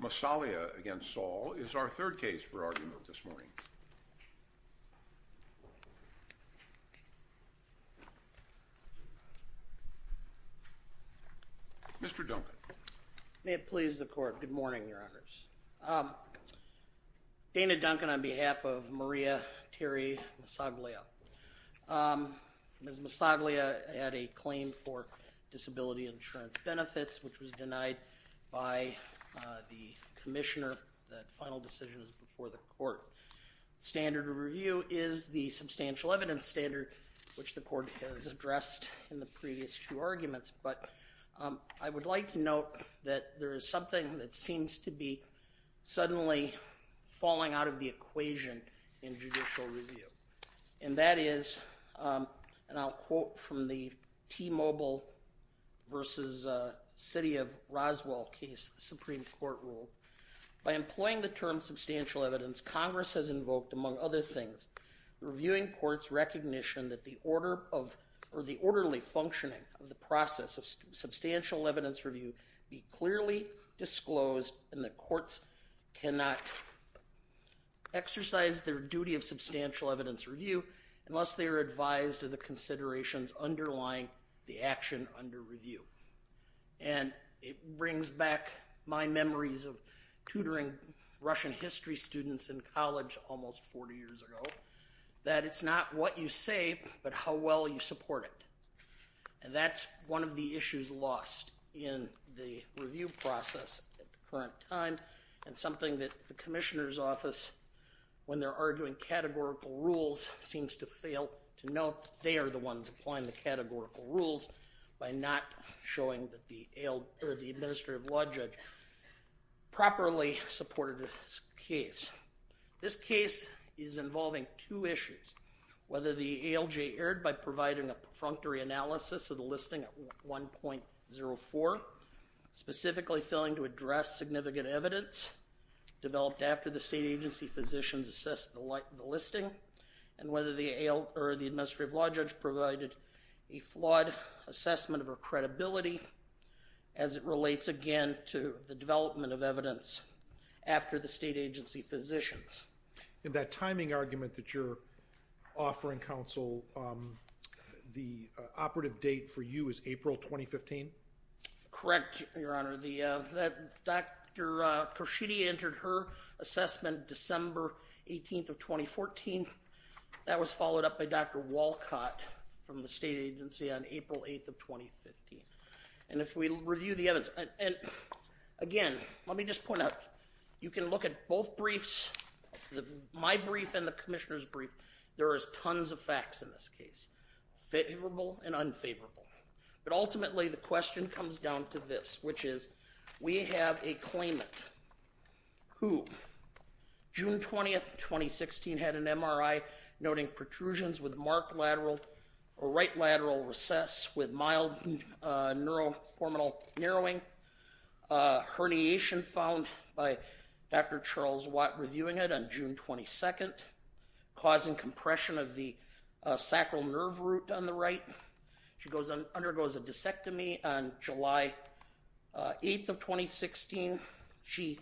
Massaglia v. Andrew M. Saul is our third case for argument this morning. Mr. Duncan. May it please the Court. Good morning, Your Honors. Dana Duncan on behalf of Maria Terri Massaglia. Ms. Massaglia had a claim for disability insurance benefits, which was denied by the commissioner. The final decision is before the Court. Standard of review is the substantial evidence standard, which the Court has addressed in the previous two arguments. But I would like to note that there is something that seems to be suddenly falling out of the equation in judicial review. And that is, and I'll quote from the T-Mobile v. City of Roswell case, the Supreme Court rule. By employing the term substantial evidence, Congress has invoked, among other things, reviewing courts' recognition that the orderly functioning of the process of substantial evidence review be clearly disclosed and that courts cannot exercise their duty of substantial evidence review unless they are advised of the considerations underlying the action under review. And it brings back my memories of tutoring Russian history students in college almost 40 years ago, that it's not what you say, but how well you support it. And that's one of the issues lost in the review process at the current time and something that the commissioner's office, when they're arguing categorical rules, seems to fail to note that they are the ones applying the categorical rules by not showing that the administrative law judge properly supported this case. This case is involving two issues, whether the ALJ erred by providing a perfunctory analysis of the listing at 1.04, specifically failing to address significant evidence developed after the state agency physicians assessed the listing, and whether the administrative law judge provided a flawed assessment of her credibility as it relates, again, to the development of evidence after the state agency physicians. In that timing argument that you're offering, counsel, the operative date for you is April 2015? Correct, Your Honor. Dr. Khurshidi entered her assessment December 18th of 2014. That was followed up by Dr. Walcott from the state agency on April 8th of 2015. And if we review the evidence, and again, let me just point out, you can look at both briefs, my brief and the commissioner's brief, there is tons of facts in this case, favorable and unfavorable. But ultimately the question comes down to this, which is we have a claimant who June 20th, 2016, had an MRI noting protrusions with marked lateral or right lateral recess with mild neuro-hormonal narrowing, herniation found by Dr. Charles Watt reviewing it on June 22nd, causing compression of the sacral nerve root on the right. She undergoes a disectomy on July 8th of 2016. She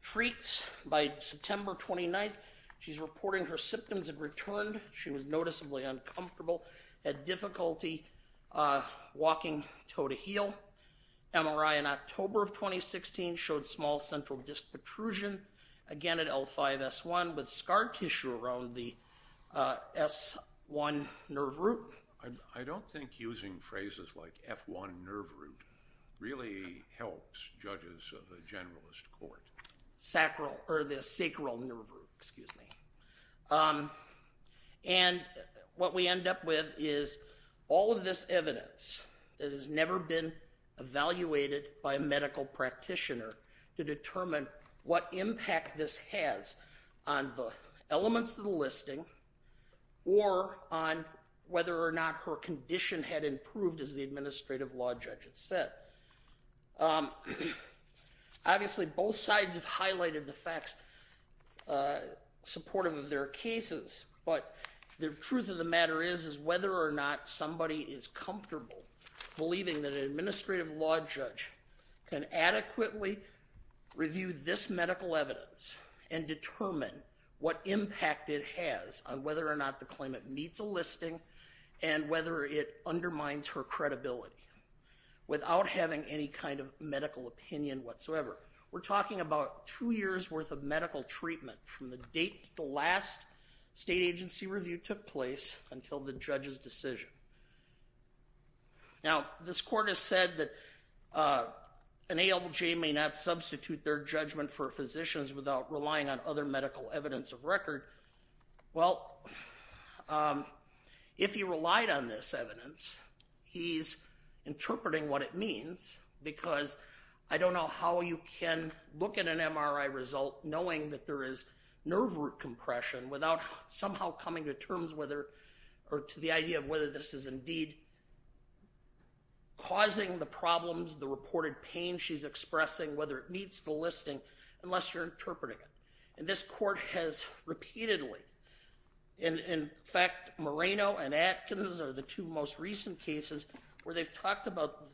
freaks by September 29th. She's reporting her symptoms have returned. She was noticeably uncomfortable, had difficulty walking toe to heel. MRI in October of 2016 showed small central disc protrusion, again at L5-S1 with scar tissue around the S1 nerve root. I don't think using phrases like F1 nerve root really helps judges of the generalist court. Sacral, or the sacral nerve root, excuse me. And what we end up with is all of this evidence that has never been evaluated by a medical practitioner to determine what impact this has on the elements of the listing or on whether or not her condition had improved, as the administrative law judge had said. Obviously, both sides have highlighted the facts supportive of their cases, but the truth of the matter is whether or not somebody is comfortable believing that an administrative law judge can adequately review this medical evidence and determine what impact it has on whether or not the claimant meets a listing and whether it undermines her credibility. Without having any kind of medical opinion whatsoever. We're talking about two years worth of medical treatment from the date the last state agency review took place until the judge's decision. Now, this court has said that an ALJ may not substitute their judgment for physicians without relying on other medical evidence of record. Well, if you relied on this evidence, he's interpreting what it means because I don't know how you can look at an MRI result knowing that there is nerve root compression without somehow coming to terms whether or to the idea of whether this is indeed causing the problems, the reported pain she's expressing, whether it meets the listing unless you're interpreting it. And this court has repeatedly, in fact, Moreno and Atkins are the two most recent cases where they've talked about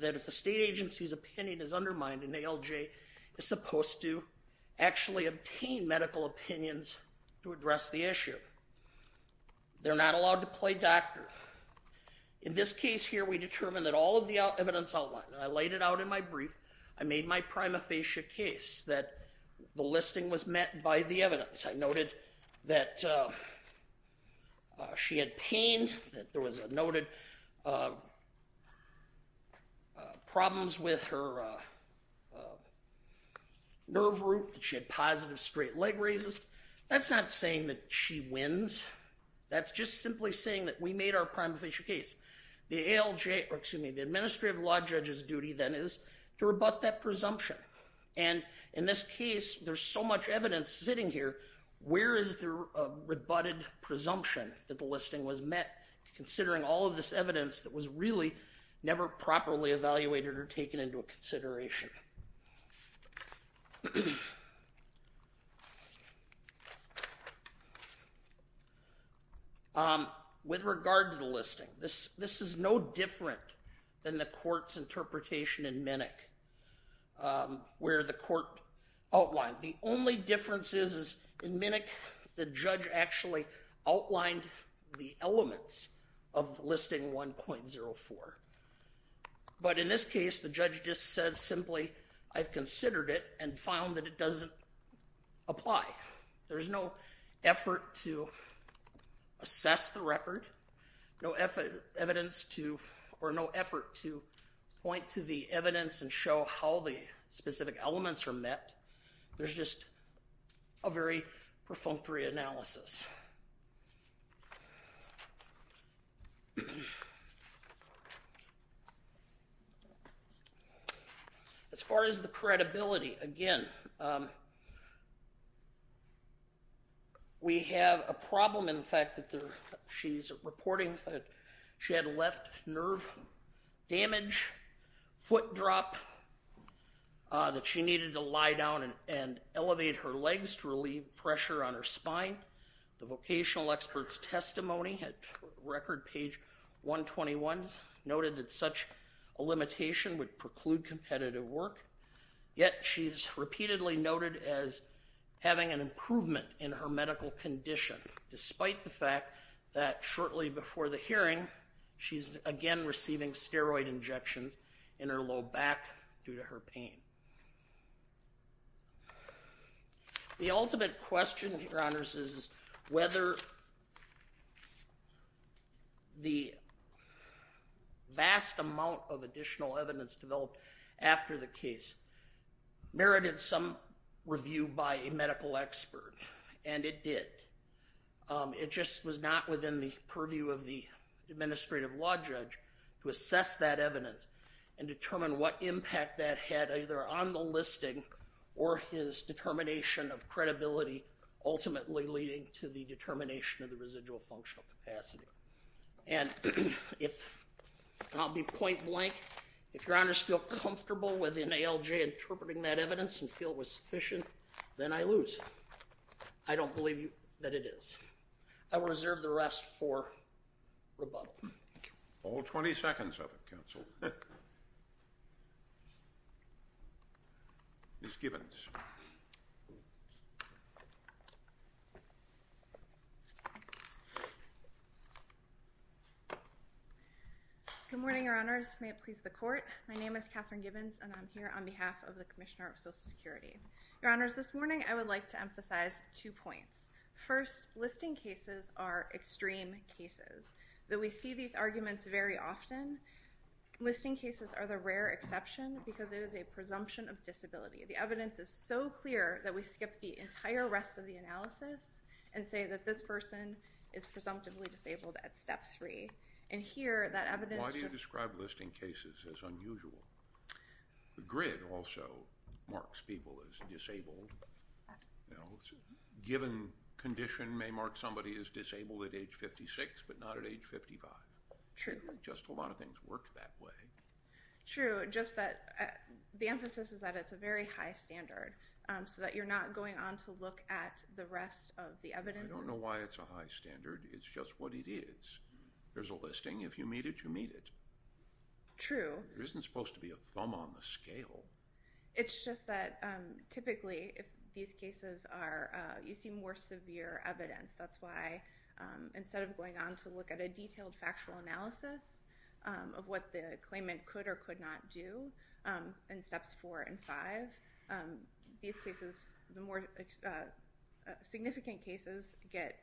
that if the state agency's opinion is undermined, an ALJ is supposed to actually obtain medical opinions to address the issue. They're not allowed to play doctor. In this case here, we determined that all of the evidence outlined, and I laid it out in my brief, I made my prima facie case that the listing was met by the evidence. I noted that she had pain, that there was noted problems with her nerve root, that she had positive straight leg raises. That's not saying that she wins. That's just simply saying that we made our prima facie case. The ALJ, or excuse me, the administrative law judge's duty then is to rebut that presumption. And in this case, there's so much evidence sitting here. Where is the rebutted presumption that the listing was met, considering all of this evidence that was really never properly evaluated or taken into consideration? With regard to the listing, this is no different than the court's interpretation in Minick, where the court outlined the only differences is in Minick, the judge actually outlined the elements of listing 1.04. But in this case, the judge just said simply, I've considered it and found that it doesn't apply. There's no effort to assess the record, no effort to point to the evidence and show how the specific elements are met. There's just a very perfunctory analysis. As far as the credibility, again, we have a problem in the fact that she's reporting that she had a left nerve damage, foot drop, that she needed to lie down and elevate her legs to relieve pressure on her spine. The vocational expert's testimony at record page 121 noted that such a limitation would preclude competitive work. Yet, she's repeatedly noted as having an improvement in her medical condition, despite the fact that shortly before the hearing, she's again receiving steroid injections in her low back due to her pain. The ultimate question, Your Honors, is whether the vast amount of additional evidence developed after the case merited some review by a medical expert. And it did. It just was not within the purview of the administrative law judge to assess that evidence and determine what impact that had either on the listing or his determination of credibility, ultimately leading to the determination of the residual functional capacity. And I'll be point blank. If Your Honors feel comfortable with an ALJ interpreting that evidence and feel it was sufficient, then I lose. I don't believe that it is. I will reserve the rest for rebuttal. Thank you. I'll hold 20 seconds of it, Counsel. Ms. Gibbons. Good morning, Your Honors. May it please the Court. My name is Katherine Gibbons, and I'm here on behalf of the Commissioner of Social Security. Your Honors, this morning I would like to emphasize two points. First, listing cases are extreme cases, though we see these arguments very often. Listing cases are the rare exception because it is a presumption of disability. The evidence is so clear that we skip the entire rest of the analysis and say that this person is presumptively disabled at step three. And here, that evidence just— Why do you describe listing cases as unusual? The grid also marks people as disabled. A given condition may mark somebody as disabled at age 56 but not at age 55. True. Just a lot of things work that way. True. Just that the emphasis is that it's a very high standard so that you're not going on to look at the rest of the evidence. I don't know why it's a high standard. It's just what it is. There's a listing. If you meet it, you meet it. True. There isn't supposed to be a thumb on the scale. It's just that typically if these cases are—you see more severe evidence. That's why instead of going on to look at a detailed factual analysis of what the claimant could or could not do in steps four and five, these cases, the more significant cases, get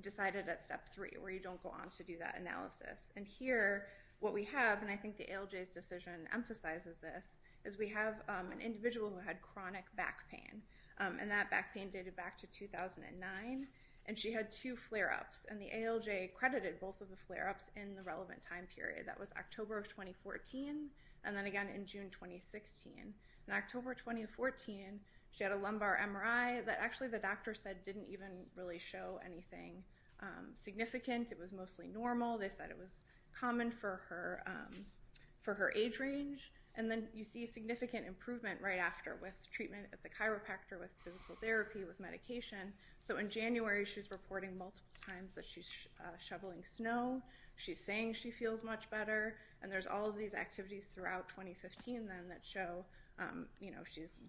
decided at step three where you don't go on to do that analysis. And here what we have, and I think the ALJ's decision emphasizes this, is we have an individual who had chronic back pain, and that back pain dated back to 2009, and she had two flare-ups. And the ALJ credited both of the flare-ups in the relevant time period. That was October of 2014 and then again in June 2016. In October 2014, she had a lumbar MRI that actually the doctor said didn't even really show anything significant. It was mostly normal. They said it was common for her age range. And then you see significant improvement right after with treatment at the chiropractor, with physical therapy, with medication. So in January, she's reporting multiple times that she's shoveling snow. She's saying she feels much better. And there's all of these activities throughout 2015 then that show she's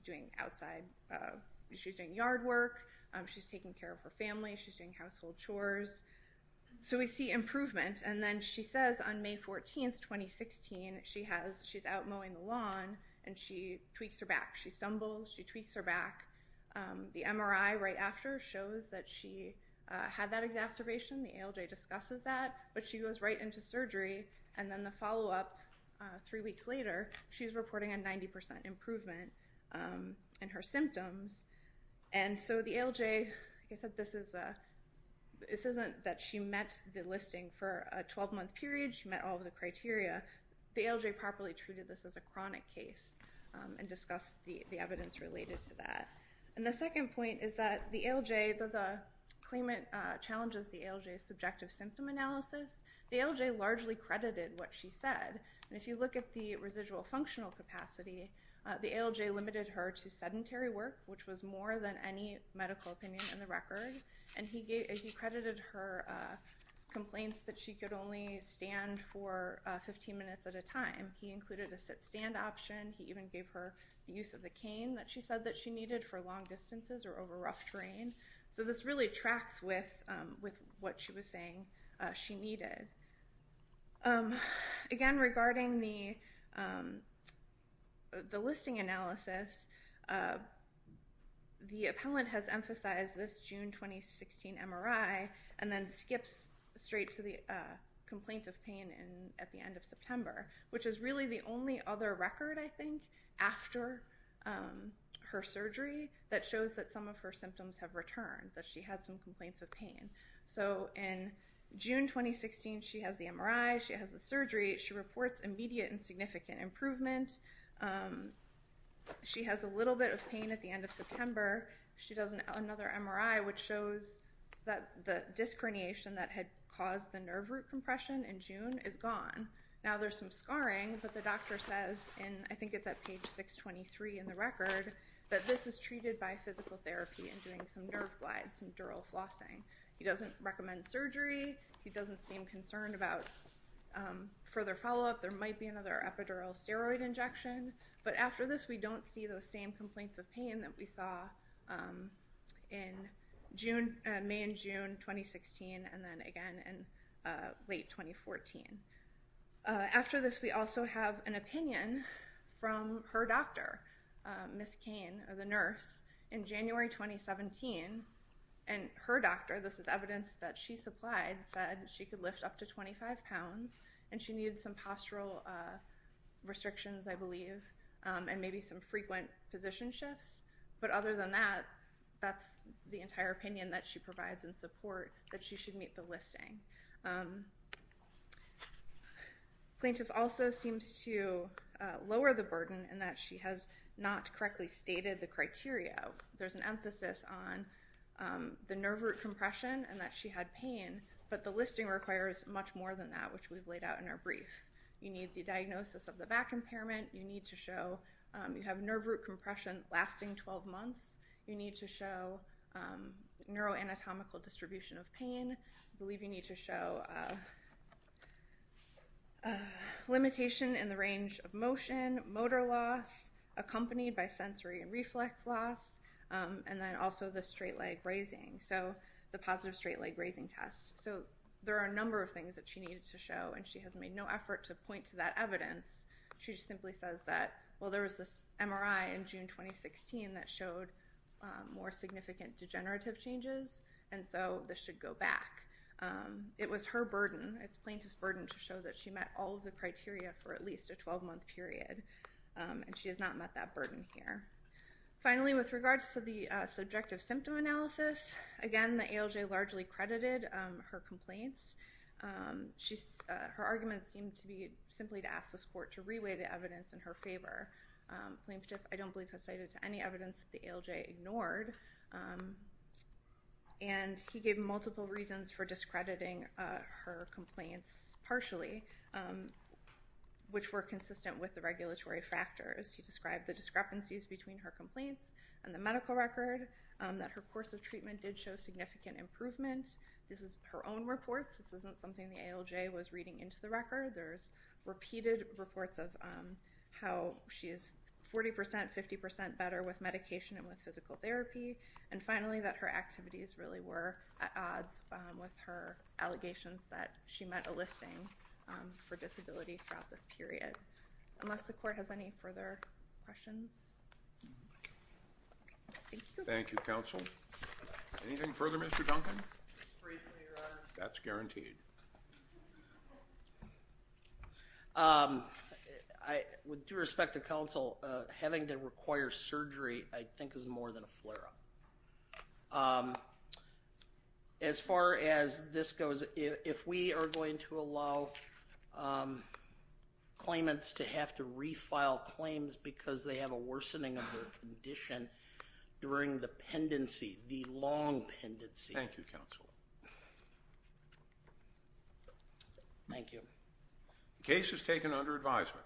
doing yard work. She's taking care of her family. She's doing household chores. So we see improvement. And then she says on May 14, 2016, she's out mowing the lawn, and she tweaks her back. She stumbles. She tweaks her back. The MRI right after shows that she had that exacerbation. The ALJ discusses that. But she goes right into surgery. And then the follow-up three weeks later, she's reporting a 90% improvement in her symptoms. And so the ALJ, like I said, this isn't that she met the listing for a 12-month period. She met all of the criteria. The ALJ properly treated this as a chronic case and discussed the evidence related to that. And the second point is that the ALJ, the claimant challenges the ALJ's subjective symptom analysis. The ALJ largely credited what she said. And if you look at the residual functional capacity, the ALJ limited her to sedentary work, which was more than any medical opinion in the record. And he credited her complaints that she could only stand for 15 minutes at a time. He included a sit-stand option. He even gave her the use of the cane that she said that she needed for long distances or over rough terrain. So this really tracks with what she was saying she needed. Again, regarding the listing analysis, the appellant has emphasized this June 2016 MRI and then skips straight to the complaint of pain at the end of September, which is really the only other record, I think, after her surgery that shows that some of her symptoms have returned, that she had some complaints of pain. So in June 2016, she has the MRI. She has the surgery. She reports immediate and significant improvement. She has a little bit of pain at the end of September. She does another MRI, which shows that the disc herniation that had caused the nerve root compression in June is gone. Now there's some scarring, but the doctor says, and I think it's at page 623 in the record, that this is treated by physical therapy and doing some nerve glides, some dural flossing. He doesn't recommend surgery. He doesn't seem concerned about further follow-up. There might be another epidural steroid injection. But after this, we don't see those same complaints of pain that we saw in May and June 2016, and then again in late 2014. After this, we also have an opinion from her doctor, Ms. Cain, the nurse, in January 2017. And her doctor, this is evidence that she supplied, said she could lift up to 25 pounds and she needed some postural restrictions, I believe, and maybe some frequent position shifts. But other than that, that's the entire opinion that she provides in support that she should meet the listing. Plaintiff also seems to lower the burden in that she has not correctly stated the criteria. There's an emphasis on the nerve root compression and that she had pain, but the listing requires much more than that, which we've laid out in our brief. You need the diagnosis of the back impairment. You need to show you have nerve root compression lasting 12 months. You need to show neuroanatomical distribution of pain. I believe you need to show limitation in the range of motion, motor loss, accompanied by sensory and reflex loss, and then also the straight leg raising, so the positive straight leg raising test. So there are a number of things that she needed to show, and she has made no effort to point to that evidence. She just simply says that, well, there was this MRI in June 2016 that showed more significant degenerative changes, and so this should go back. It was her burden. It's plaintiff's burden to show that she met all of the criteria for at least a 12-month period, and she has not met that burden here. Finally, with regards to the subjective symptom analysis, again, the ALJ largely credited her complaints. Her arguments seem to be simply to ask this court to reweigh the evidence in her favor. Plaintiff, I don't believe, has cited any evidence that the ALJ ignored, and he gave multiple reasons for discrediting her complaints partially, which were consistent with the regulatory factors. He described the discrepancies between her complaints and the medical record, that her course of treatment did show significant improvement. This is her own reports. This isn't something the ALJ was reading into the record. There's repeated reports of how she is 40 percent, 50 percent better with medication and with physical therapy, and finally that her activities really were at odds with her allegations that she met a listing for disability throughout this period. Unless the court has any further questions? Thank you. Thank you, counsel. Anything further, Mr. Duncan? Briefly, Your Honor. That's guaranteed. With due respect to counsel, having to require surgery I think is more than a flare-up. As far as this goes, if we are going to allow claimants to have to refile claims because they have a worsening of their condition during the pendency, the long pendency. Thank you, counsel. Thank you. The case is taken under advisement.